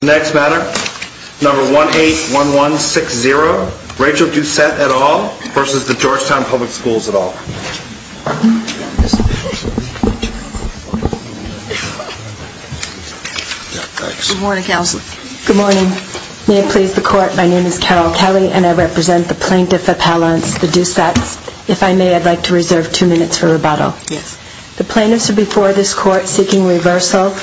Next matter, number 181160, Rachel Doucette et al. versus the Georgetown Public Schools et al. Good morning, counsel. Good morning. May it please the court, my name is Carol Kelly and I represent the plaintiff appellants, the Doucettes. If I may, I'd like to reserve two minutes for rebuttal. The plaintiffs are before this court seeking reversal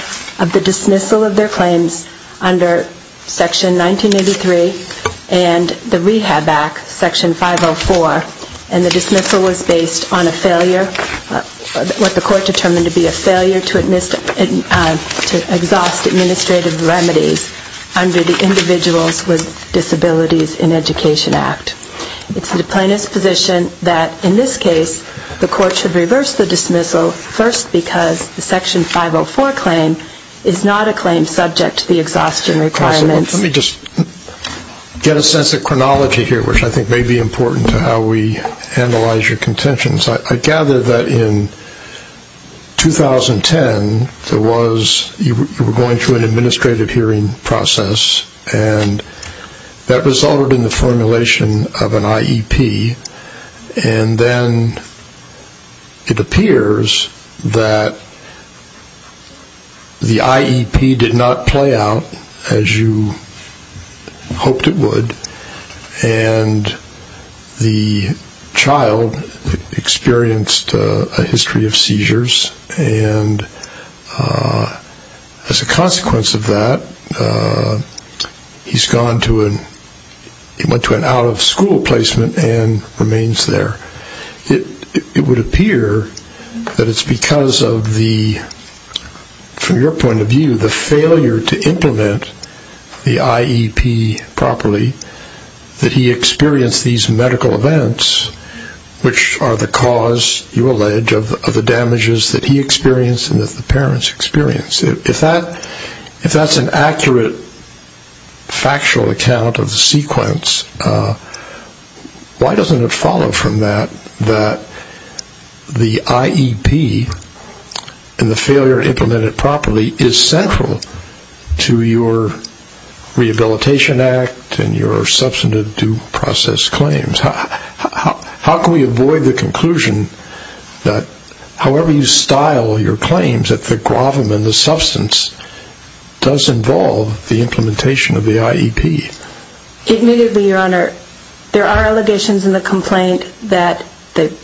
of the dismissal of their claims under Section 1983 and the Rehab Act, Section 504, and the dismissal was based on a failure, what the court determined to be a failure to exhaust administrative remedies under the Individuals with Disabilities in Education Act. It's the plaintiff's position that in this case the court should reverse the dismissal first because the Section 504 claim is not a claim subject to the exhaustion requirements. Counsel, let me just get a sense of chronology here, which I think may be important to how we analyze your contentions. I gather that in 2010 there was, you were going through an administrative hearing process and that resulted in the formulation of an IEP and then it appears that the IEP did not play out as you hoped it would and the child experienced a history of seizures and as a consequence of that he's gone to an, he went to an out of school placement and remains there. It would appear that it's because of the, from your point of view, the failure to implement the IEP properly that he experienced these medical events which are the cause, you allege, of the damages that he experienced and that why doesn't it follow from that that the IEP and the failure to implement it properly is central to your Rehabilitation Act and your substantive due process claims. How can we avoid the conclusion that however you style your claims that the gravamen, the substance, does involve the implementation of the IEP? Admittedly, Your Honor, there are allegations in the complaint that the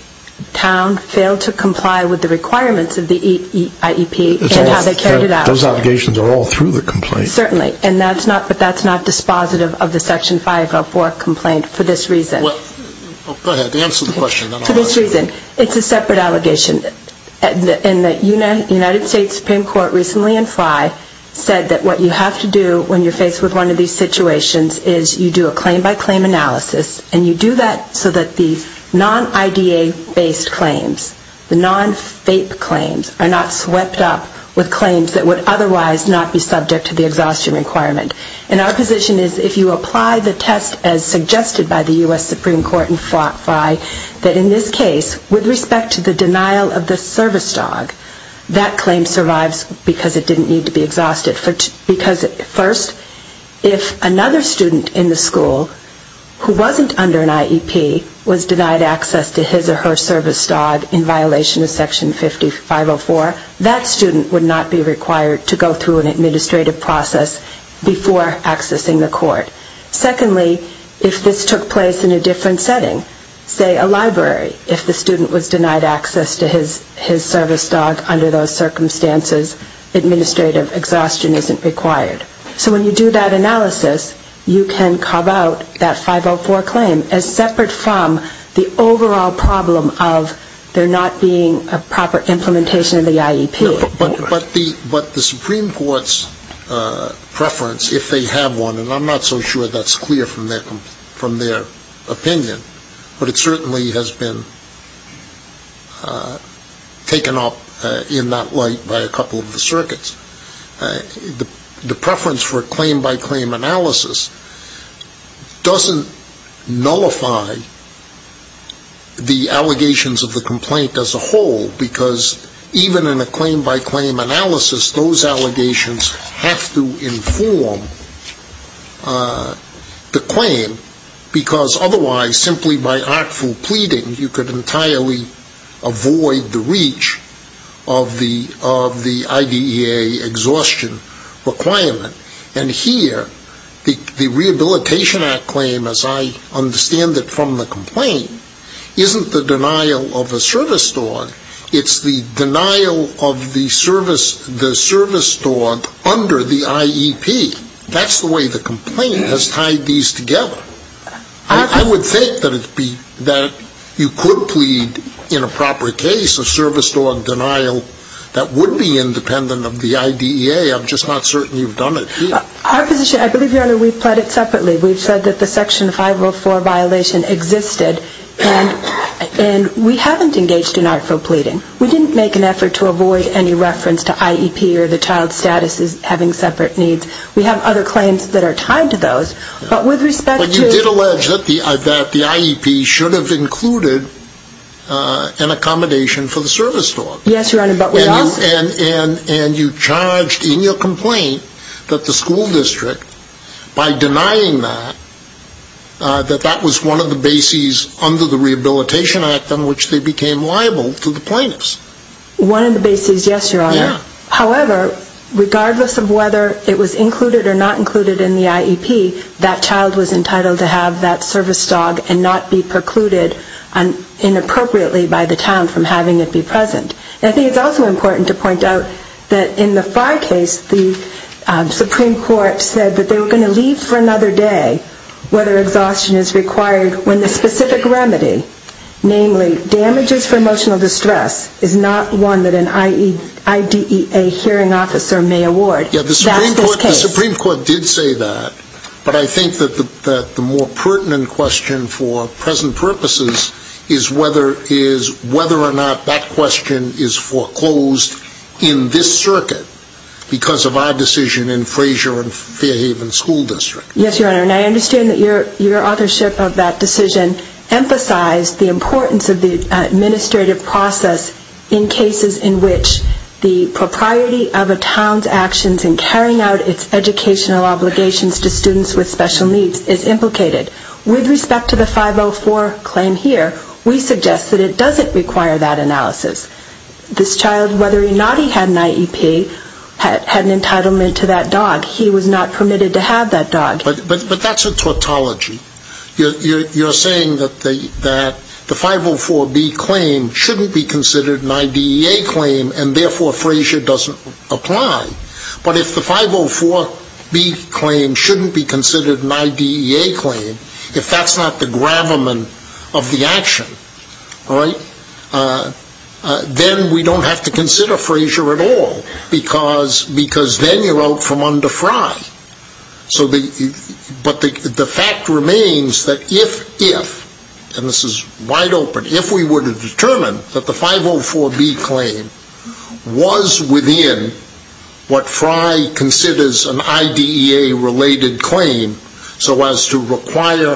town failed to comply with the requirements of the IEP and how they carried it out. Those allegations are all through the complaint? Certainly, but that's not dispositive of the Section 504 complaint for this reason. Well, go ahead, answer the question. For this reason, it's a separate allegation and the United States Supreme Court recently in FI said that what you have to do when you're faced with one of these situations is you do a claim-by-claim analysis and you do that so that the non-IDA-based claims, the non-FAPE claims, are not swept up with claims that would otherwise not be subject to the exhaustion requirement. And our position is if you apply the test as suggested by the U.S. Supreme Court in FI that in this case, with respect to the denial of the service dog, that claim survives because it didn't need to be exhausted. Because first, if another student in the school who wasn't under an IEP was denied access to his or her service dog in violation of Section 504, that student would not be required to go through an administrative process before accessing the court. Secondly, if this took place in a different setting, say a library, if the student was denied access to his or her service dog under those circumstances, administrative exhaustion isn't required. So when you do that analysis, you can carve out that 504 claim as separate from the overall problem of there not being a proper implementation of the IEP. But the Supreme Court's preference, if they have one, and I'm not so sure that's clear from their opinion, but it certainly has been taken up in that light by a couple of the circuits, the preference for a claim-by-claim analysis doesn't nullify the allegations of the complaint as a whole, because even in a claim-by-claim analysis, those allegations have to inform the claim, because otherwise, simply by actful pleading, you could entirely avoid the reach of the IDEA exhaustion requirement. And here, the Rehabilitation Act claim, as I understand it from the complaint, isn't the denial of a service dog, it's the denial of the service dog under the IEP. That's the way the complaint has tied these together. I would think that you could plead in a proper case a service dog denial that would be independent of the IDEA. I'm just not certain you've done it here. Our position, I believe, Your Honor, we've pled it separately. We've said that the section 504 violation existed, and we haven't engaged in actful pleading. We didn't make an effort to avoid any reference to IEP or the child's status as having separate needs. We have other claims that are tied to those, but with respect to... But you did allege that the IEP should have included an accommodation for the service dog. Yes, Your Honor, but we also... And you charged in your complaint that the school district, by denying that, that that was one of the bases under the Rehabilitation Act on which they became liable to the plaintiffs. One of the bases, yes, Your Honor. However, regardless of whether it was included or not included in the IEP, that child was entitled to have that service dog and not be precluded inappropriately by the town from having it be present. And I think it's also important to point out that in the Fry case, the Supreme Court said that they were going to leave for another day whether exhaustion is required when the specific remedy, namely damages for emotional distress, is not one that an IDEA hearing officer may award. Yeah, the Supreme Court did say that, but I think that the more pertinent question for present purposes is whether or not that question is foreclosed in this circuit because of our decision in Fraser and Fairhaven School District. Yes, Your Honor, and I understand that your authorship of that decision emphasized the importance of the administrative process in cases in which the propriety of a town's actions in carrying out its educational obligations to students with special needs is implicated. With respect to the 504 claim here, we suggest that it doesn't require that analysis. This child, whether or not he had an IEP, had an entitlement to that dog. He was not permitted to that. The 504B claim shouldn't be considered an IDEA claim, and therefore, Fraser doesn't apply. But if the 504B claim shouldn't be considered an IDEA claim, if that's not the gravamen of the action, then we don't have to consider Fraser at all because then you're out from under Fry. But the fact remains that if, and this is wide open, if we were to determine that the 504B claim was within what Fry considers an IDEA-related claim so as to require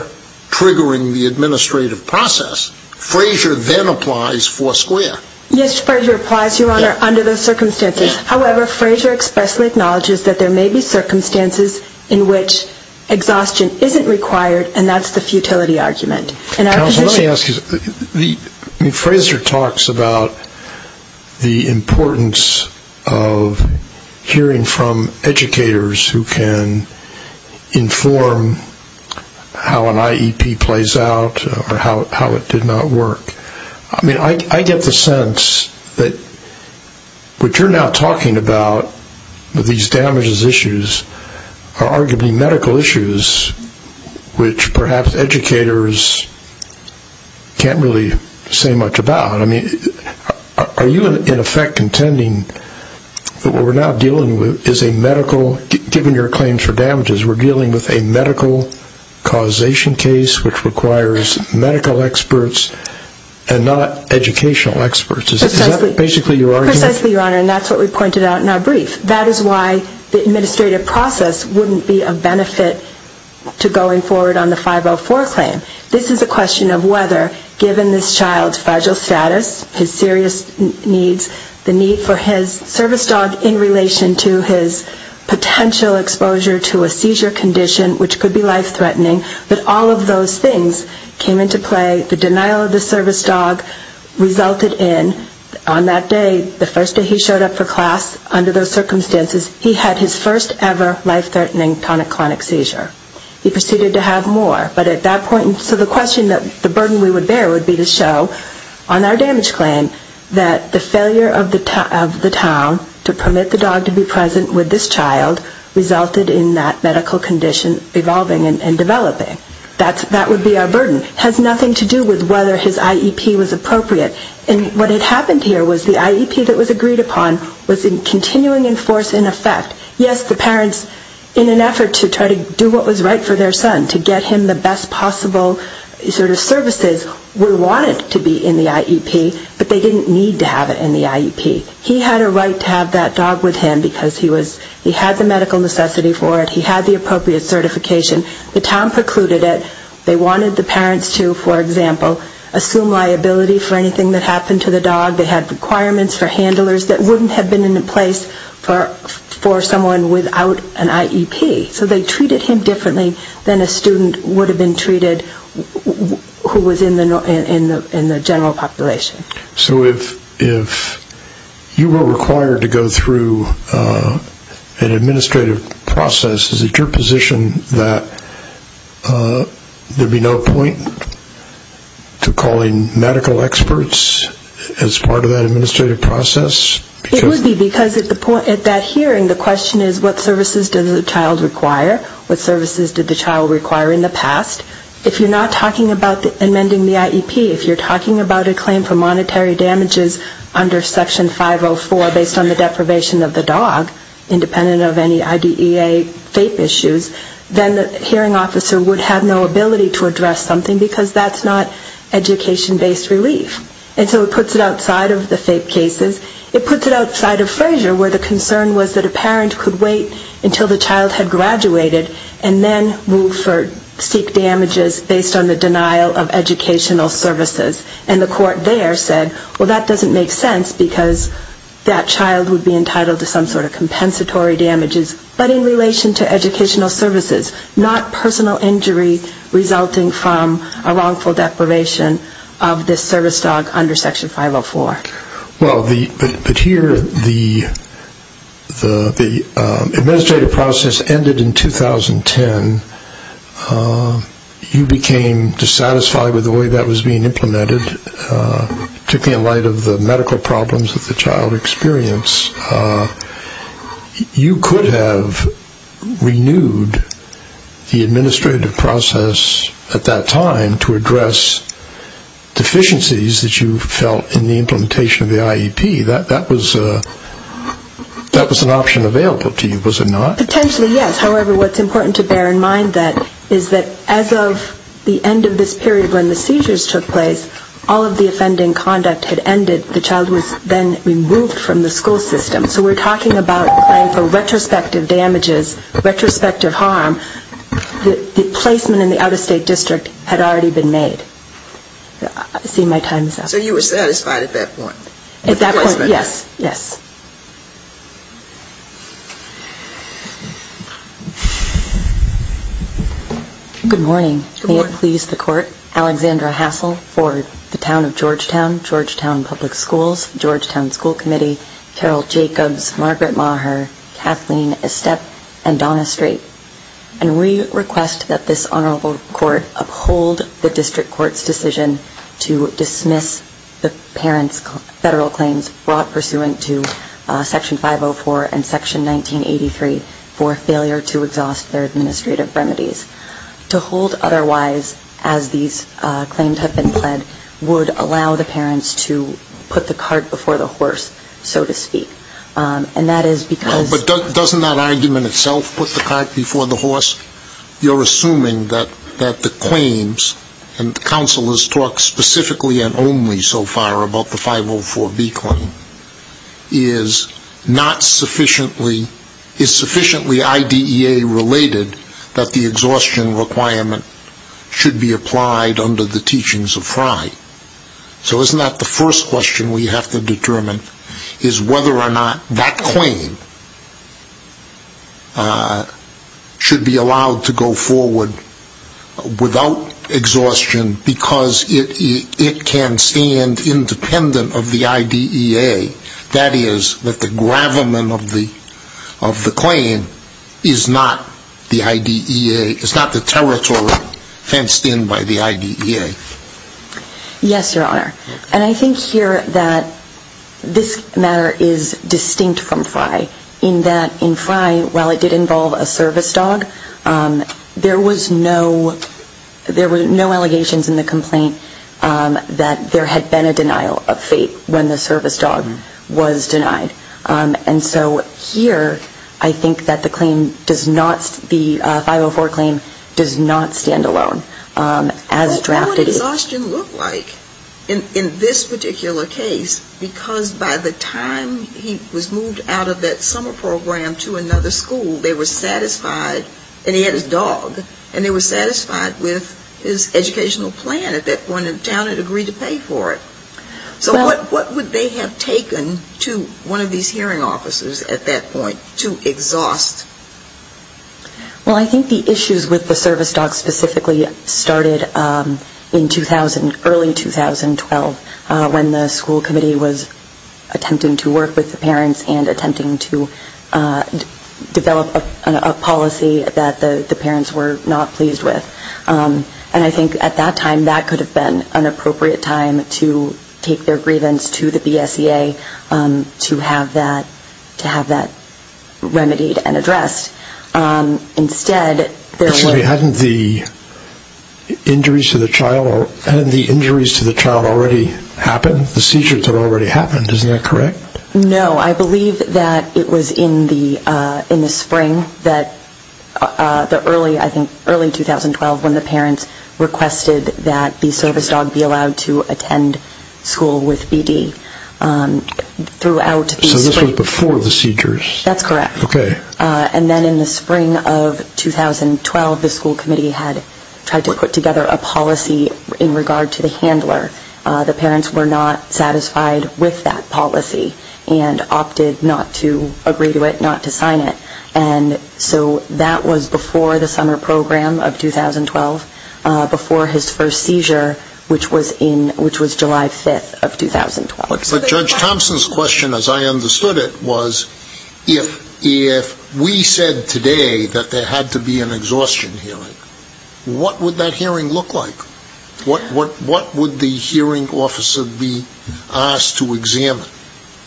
triggering the administrative process, Fraser then applies foursquare. Yes, Fraser applies, Your Honor, under those circumstances. However, Fraser expressly acknowledges that there may be circumstances in which exhaustion isn't required, and that's the futility argument. And our position... Let me ask you, Fraser talks about the importance of hearing from educators who can inform how an IEP plays out or how it did not work. I mean, I get the sense that what you're now talking about, these damages issues, are arguably medical issues which perhaps educators can't really say much about. I mean, are you in effect contending that what we're now dealing with is a medical causation case which requires medical experts and not educational experts? Precisely, Your Honor, and that's what we pointed out in our brief. That is why the administrative process wouldn't be a benefit to going forward on the 504 claim. This is a question of whether, given this child's fragile status, his serious needs, the need for his service dog in relation to his potential exposure to a seizure condition which could be life-threatening, that all of those things came into play, the denial of the service dog resulted in, on that day, the first day he showed up for class, under those circumstances, he had his first ever life-threatening tonic-clonic seizure. He proceeded to have more, but at that point, so the question that the burden we would bear would be to show on our damage claim that the present with this child resulted in that medical condition evolving and developing. That would be our burden. It has nothing to do with whether his IEP was appropriate. And what had happened here was the IEP that was agreed upon was continuing in force in effect. Yes, the parents, in an effort to try to do what was right for their son, to get him the best possible sort of services, would want it to be in the IEP, but they didn't need to have it in the IEP. He had a right to have that dog with him because he had the medical necessity for it. He had the appropriate certification. The town precluded it. They wanted the parents to, for example, assume liability for anything that happened to the dog. They had requirements for handlers that wouldn't have been in place for someone without an IEP. So they treated him differently than a student would have been treated who was in the general population. So if you were required to go through an administrative process, is it your position that there would be no point to calling medical experts as part of that administrative process? It would be because at that hearing, the question is what services did the child require? What services did the child require in the past? If you're not talking about amending the IEP, if you're talking about a claim for monetary damages under Section 504 based on the deprivation of the dog, independent of any IDEA FAPE issues, then the hearing officer would have no ability to address something because that's not education-based relief. And so it puts it outside of the FAPE cases. It puts it outside of Fraser where the concern was that a parent could wait until the child had graduated and then move for, seek damages based on the denial of educational services. And the court there said, well, that doesn't make sense because that child would be entitled to some sort of compensatory damages. But in relation to educational services, not personal injury resulting from a wrongful deprivation of this service dog under Section 504. Well, but here the administrative process ended in 2010. You became dissatisfied with the way that was being implemented, particularly in light of the medical problems that the child experienced. You could have renewed the administrative process at that time to address deficiencies that you felt in the implementation of the IEP. That was an option available to you, was it not? Potentially, yes. However, what's important to bear in mind is that as of the end of this period when the seizures took place, all of the offending conduct had ended. The child was then removed from the school system. So we're talking about playing for retrospective damages, retrospective harm. The placement in the out-of-state district had already been made. I see my time is up. So you were satisfied at that point? At that point, yes. Yes. Good morning. May it please the Court, Alexandra Hassel for the Town of Georgetown, Georgetown Public Schools, Georgetown School Committee, Carol Jacobs, Margaret Maher, Kathleen Estep, and Donna Strait. And we request that this Honorable Court uphold the District Court's decision to dismiss the parents' federal claims brought pursuant to Section 504 and Section 1983 for failure to exhaust their administrative remedies. To hold otherwise, as these claims have been pled, would allow the parents to put the cart before the horse, so to speak. And that is because... Well, but doesn't that argument itself, put the cart before the horse? You're assuming that the claims, and counsel has talked specifically and only so far about the 504B claim, is not sufficiently, is sufficiently IDEA related that the exhaustion requirement should be applied under the teachings of Frye. So isn't that the first question we have to determine, is whether or not that claim should be allowed to go forward without exhaustion because it can stand independent of the IDEA. That is, that the gravamen of the claim is not the IDEA, is not the territory fenced in by the IDEA. Yes, Your Honor. And I think here that this matter is distinct from Frye, in that in Frye, while it did involve a service dog, there was no, there were no allegations in the complaint that there had been a denial of fate when the service dog was denied. And so here, I think that the claim does not, the 504 claim does not stand alone. As drafted... What would exhaustion look like in this particular case? Because by the time he was moved out of that summer program to another school, they were satisfied, and he had his dog, and they were satisfied with his educational plan at that point, and the town had agreed to pay for it. So what would they have taken to one of these hearing officers at that point to exhaust? Well, I think the issues with the service dog specifically started in 2000, early 2012, when the school committee was attempting to work with the parents and attempting to develop a policy that the parents were not pleased with. And I think at that time, that could have been an appropriate time to take their grievance to the BSEA to have that remedied and addressed. Instead... I'm sorry, hadn't the injuries to the child already happened? The seizures had already happened, isn't that correct? No, I believe that it was in the spring that the early, I think early 2012, when the parents requested that the service dog be allowed to attend school with B.D. throughout the spring. So this was before the seizures? That's correct. And then in the spring of 2012, the school committee had tried to put together a policy in regard to the handler. The parents were not satisfied with that policy and opted not to agree to it, not to sign it. And so that was before the summer program of 2012, before his first seizure, which was July 5th of 2012. But Judge Thompson's question, as I understood it, was if we said today that there had to be an exhaustion hearing, what would that hearing look like? What would the hearing officer be asked to examine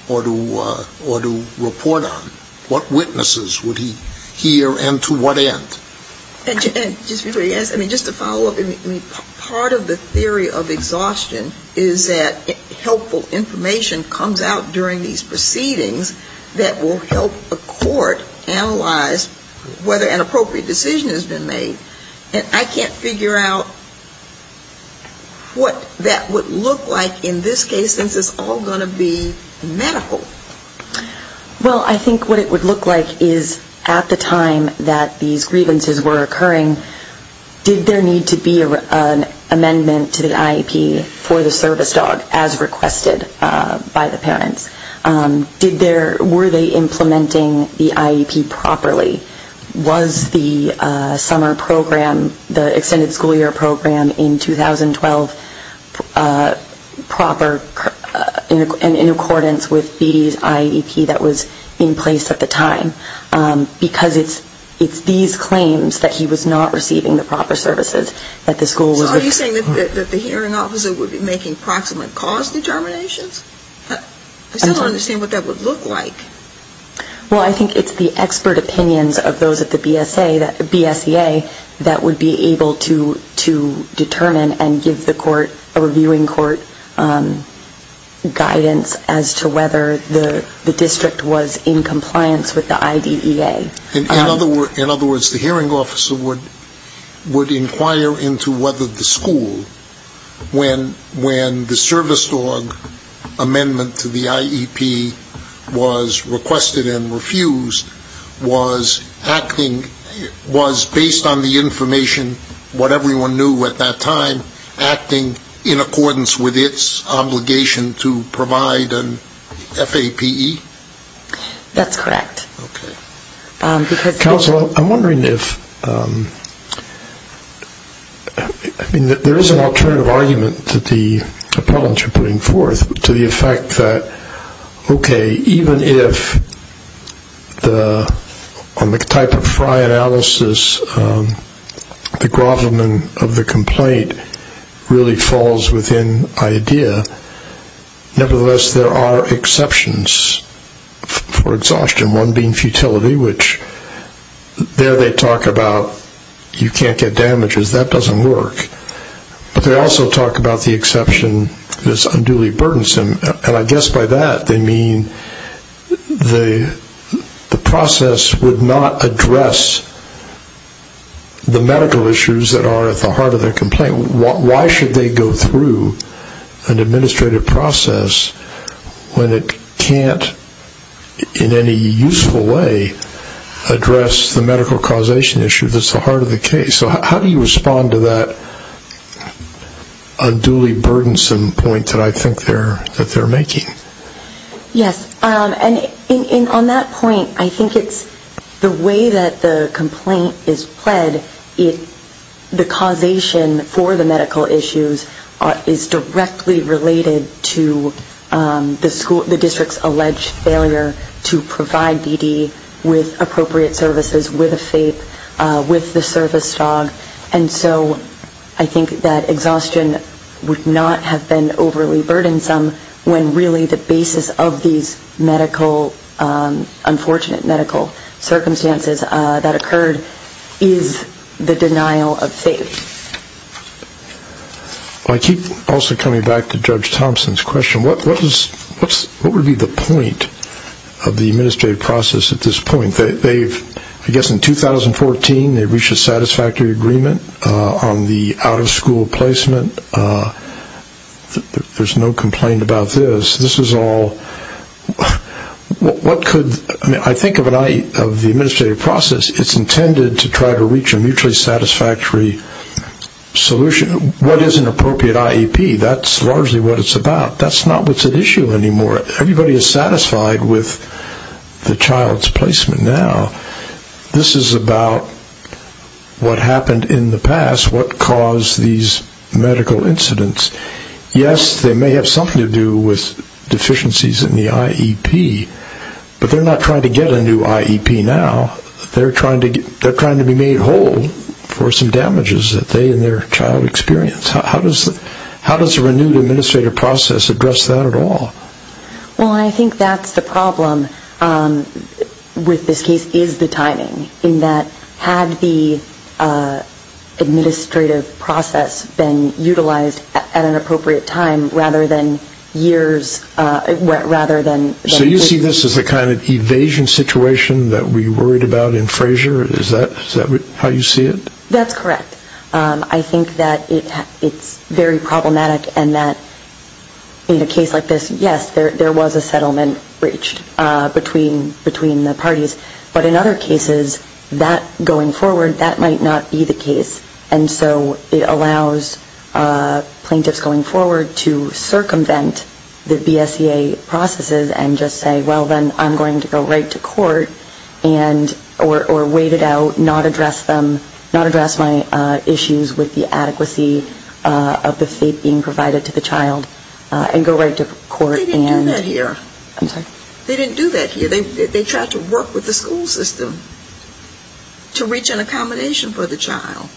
or to report on? What witnesses would he hear and to what end? And just to follow up, part of the theory of exhaustion is that helpful information comes out during these proceedings that will help a court analyze whether an appropriate decision has been made. And I can't figure out what that would look like in this case, since it's all going to be medical. Well, I think what it would look like is at the time that these grievances were occurring, did there need to be an amendment to the IEP for the service dog as requested by the parents? Were they implementing the IEP that was in place at the time? Because it's these claims that he was not receiving the proper services that the school was... So are you saying that the hearing officer would be making proximate cause determinations? I still don't understand what that would look like. Well, I think it's the expert opinions of those at the BSEA that would be able to determine and give the court, a reviewing court, guidance as to whether the district was in compliance with the IDEA. In other words, the hearing officer would inquire into whether the school, when the service dog amendment to the IEP was in accordance with its obligation to provide an FAPE? That's correct. Okay. Counsel, I'm wondering if... I mean, there is an alternative argument that the appellants are putting forth to the effect that, okay, even if on the type of fry analysis, the grovelment of the complaint really falls within IDEA, nevertheless, there are exceptions for exhaustion, one being futility, which there they talk about you can't get damages, that doesn't work. But they also talk about the exception that's unduly burdensome, and I guess by that they mean the process would not address the medical issues that are at the heart of the complaint. Why should they go through an administrative process when it can't, in any useful way, address the medical causation issue that's the heart of the case? So how do you respond to that unduly burdensome point that I think they're making? Yes. And on that point, I think it's the way that the complaint is pled, the causation for the medical issues is directly related to the district's alleged failure to provide DD with appropriate services with a FAPE, with the service dog. And so I think that exhaustion would not have been overly burdensome when really the basis of these medical, unfortunate medical circumstances that occurred is the denial of FAPE. I keep also coming back to Judge Thompson's question, what would be the point of the administrative process at this point? I guess in 2014, they reached a satisfactory agreement on the out of school placement, there's no complaint about this. This is all, what could, I think of the administrative process, it's intended to try to reach a mutually satisfactory solution. What is an appropriate IEP? That's largely what it's about. That's not what's at issue anymore. Everybody is satisfied with the child's placement now. This is about what happened in the past, what caused these medical incidents. Yes, they may have something to do with deficiencies in the IEP, but they're not trying to get a new IEP now, they're trying to be made whole for some damages that they and their child experience. How does a renewed administrative process address that at all? Well, I think that's the problem with this case, is the timing, in that had the administrative process been utilized at an appropriate time rather than years, rather than... So you see this as a kind of evasion situation that we worried about in Fraser, is that how you see it? That's correct. I think that it's very problematic, and that in a case like this, yes, there was a settlement breached between the parties. But in other cases, that going forward, that might not be the case. And so it allows plaintiffs going forward to circumvent the BSEA processes and just say, well, then I'm going to go right to court, or wait it out, not address them, not address my issues with the adequacy of the fate being provided to the child, and go right to court. They didn't do that here. I'm sorry? They didn't do that here. They tried to work with the school system to reach an accommodation for the child.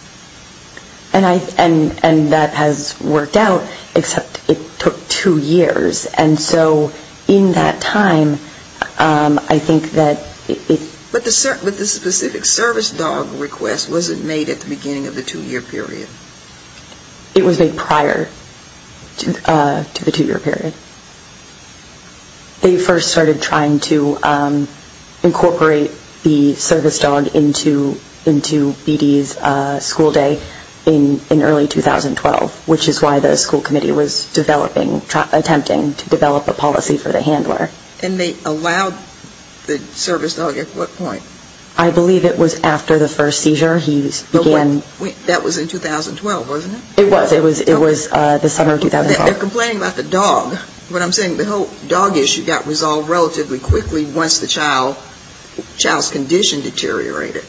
And that has worked out, except it took two years. And so in that time, I think that it... But the specific service dog request, was it made at the beginning of the two-year period? It was made prior to the two-year period. They first started trying to incorporate the service dog into BD's school day in early 2012, which is why the school committee was developing, attempting to develop a policy for the handler. And they allowed the service dog at what point? I believe it was after the first seizure. That was in 2012, wasn't it? It was. It was the summer of 2012. They're complaining about the dog. What I'm saying, the whole dog issue got resolved relatively quickly once the child's condition deteriorated.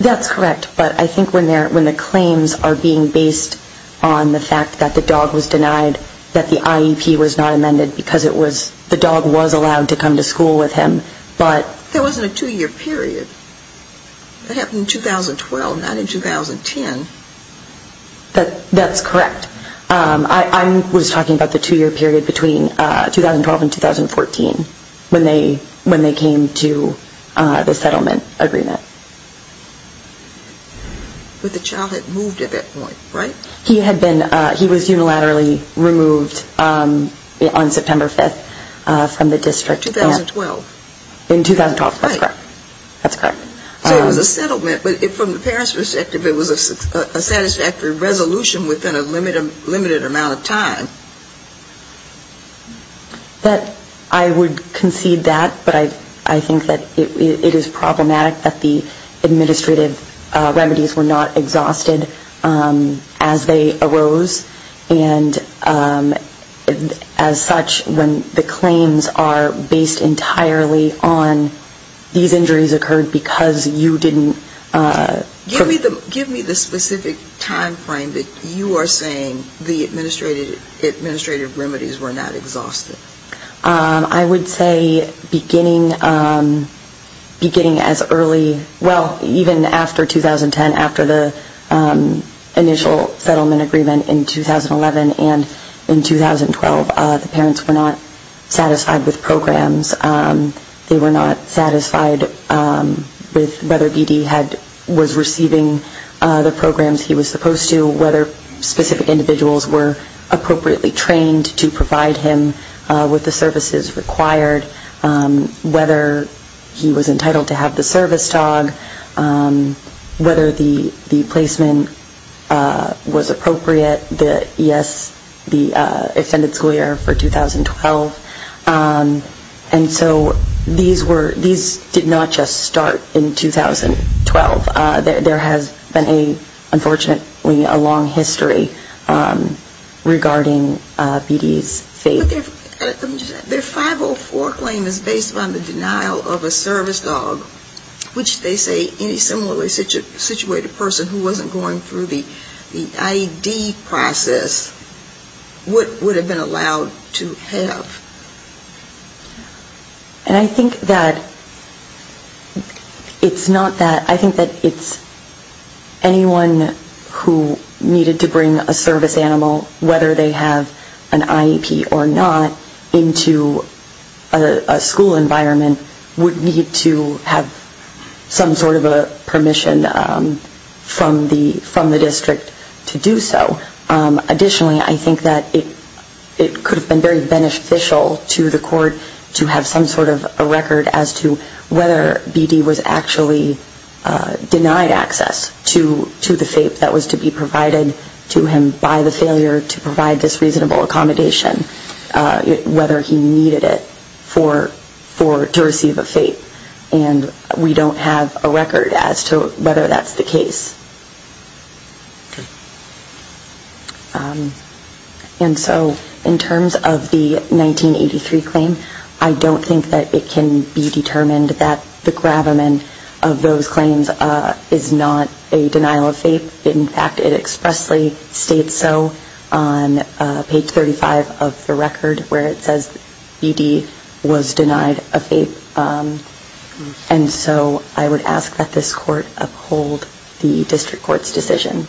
That's correct. But I think when the claims are being based on the fact that the dog was denied, that the IEP was not amended because it was, the dog was allowed to come to school with him. But... There wasn't a two-year period. It happened in 2012, not in 2010. That's correct. I was talking about the two-year period between 2012 and 2014, when they came to the settlement agreement. But the child had moved at that point, right? He had been, he was unilaterally removed on September 5th from the district. 2012. In 2012, that's correct. That's correct. So it was a settlement, but from the parents' perspective, it was a satisfactory resolution within a limited amount of time. That, I would concede that, but I think that it is problematic that the administrative remedies were not exhausted as they arose, and as such, when the claims are based entirely on these injuries occurred because you didn't... Give me the specific time frame that you are saying the administrative remedies were not exhausted. I would say beginning as early... Well, even after 2010, after the initial settlement agreement in 2011 and in 2012, the parents were not satisfied with programs. They were not satisfied with whether BD was receiving the programs he was supposed to, whether specific individuals were appropriately trained to provide him with the services required, whether he was entitled to have the service dog, whether the placement was appropriate, the ES, the extended school year for 2012. And so these were, these did not just start in 2012. There has been a, unfortunately, a long history regarding BD's fate. But their 504 claim is based on the denial of a service dog, which they say any similarly situated person who wasn't going through the IED process would have been allowed to have. And I think that it's not that, I think that it's anyone who needed to bring a service animal, whether they have an IEP or not, into a school environment would need to have some sort of a permission from the district to do so. Additionally, I think that it could have been very beneficial to the court to have some sort of a record as to whether BD was actually denied access to the FAPE that was to be provided to him by the failure to provide this reasonable accommodation, whether he needed it for, to receive a FAPE. And we don't have a record as to whether that's the case. And so in terms of the 1983 claim, I don't think that it can be determined that the gravamen of those claims is not a denial of FAPE. In fact, it expressly states so on page 35 of the record where it says BD was denied a FAPE. And so I would ask that this court uphold the district court's decision.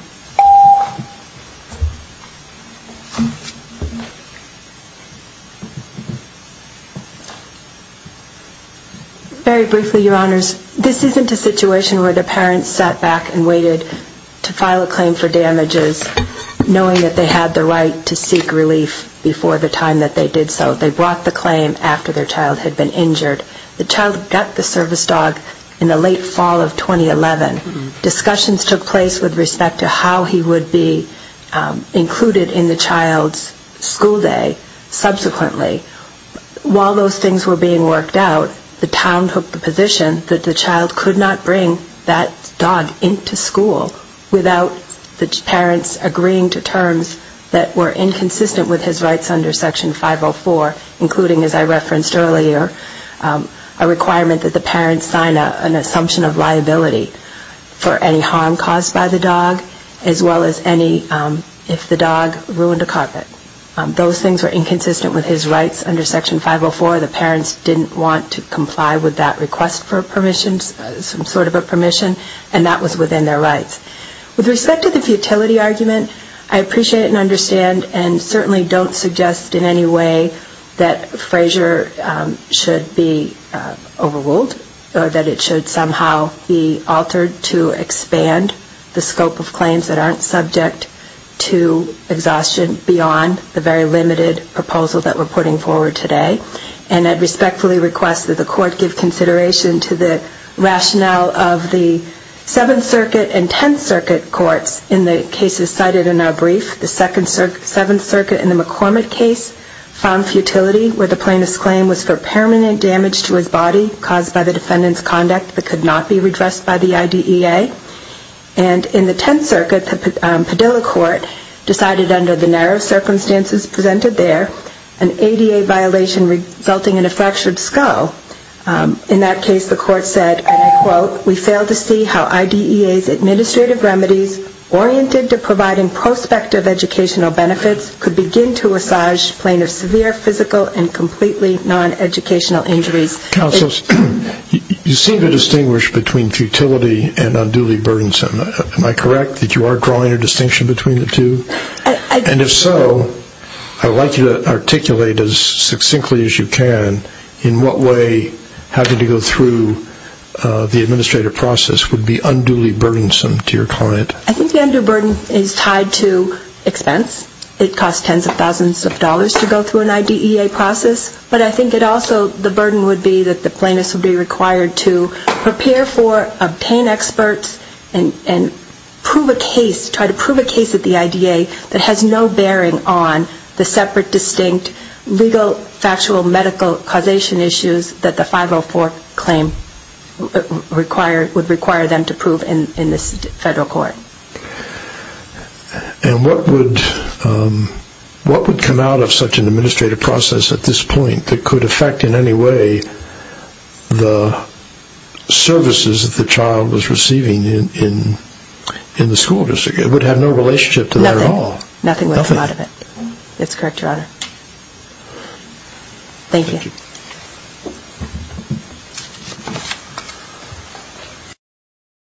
Very briefly, Your Honors, this isn't a situation where the parents sat back and waited to file a claim for damages knowing that they had the right to seek relief before the time that they did so. They brought the claim after their child had been injured. The child got the service dog in the late fall of 2011. Discussions took place with respect to how he would be included in the child's school day subsequently. While those things were being worked out, the town took the position that the child could not bring that dog into school without the parents agreeing to terms that were inconsistent with his rights under Section 504, including, as I referenced earlier, a requirement that the parents sign an assumption of liability for any harm caused by the dog, as well as any if the dog ruined a carpet. Those things were inconsistent with his rights under Section 504. The parents didn't want to comply with that request for permission, some sort of a permission, and that was within their rights. With respect to the futility argument, I appreciate and understand and certainly don't suggest in any way that Frazier should be overruled or that it should somehow be altered to expand the scope of claims that aren't subject to exhaustion beyond the very limited proposal that we're putting forward today. And I respectfully request that the court give consideration to the rationale of the case. In the 10th Circuit courts, in the cases cited in our brief, the 7th Circuit in the McCormick case found futility where the plaintiff's claim was for permanent damage to his body caused by the defendant's conduct that could not be redressed by the IDEA. And in the 10th Circuit, the Padilla court decided under the narrow circumstances presented there, an ADA violation resulting in a fractured skull. In that case, the court said, and I quote, we fail to see how IDEA's administrative remedies oriented to providing prospective educational benefits could begin to assage plaintiff's severe physical and completely non-educational injuries. Counsel, you seem to distinguish between futility and unduly burdensome. Am I correct that you are drawing a distinction between the two? And if so, I would like you to articulate as succinctly as you can in what way having to go through the administrative process would be unduly burdensome to your client. I think the unduly burden is tied to expense. It costs tens of thousands of dollars to go through an IDEA process. But I think it also, the burden would be that the plaintiff would be required to prepare for, obtain experts, and prove a case, try to prove a case at the IDEA that has no bearing on the separate, distinct, legal, factual, medical causation issues that the 504 claim would require them to prove in this federal court. And what would come out of such an administrative process at this point that could affect in the cases that the child was receiving in the school district? It would have no relationship to that at all. Nothing would come out of it. That's correct, Your Honor. Thank you.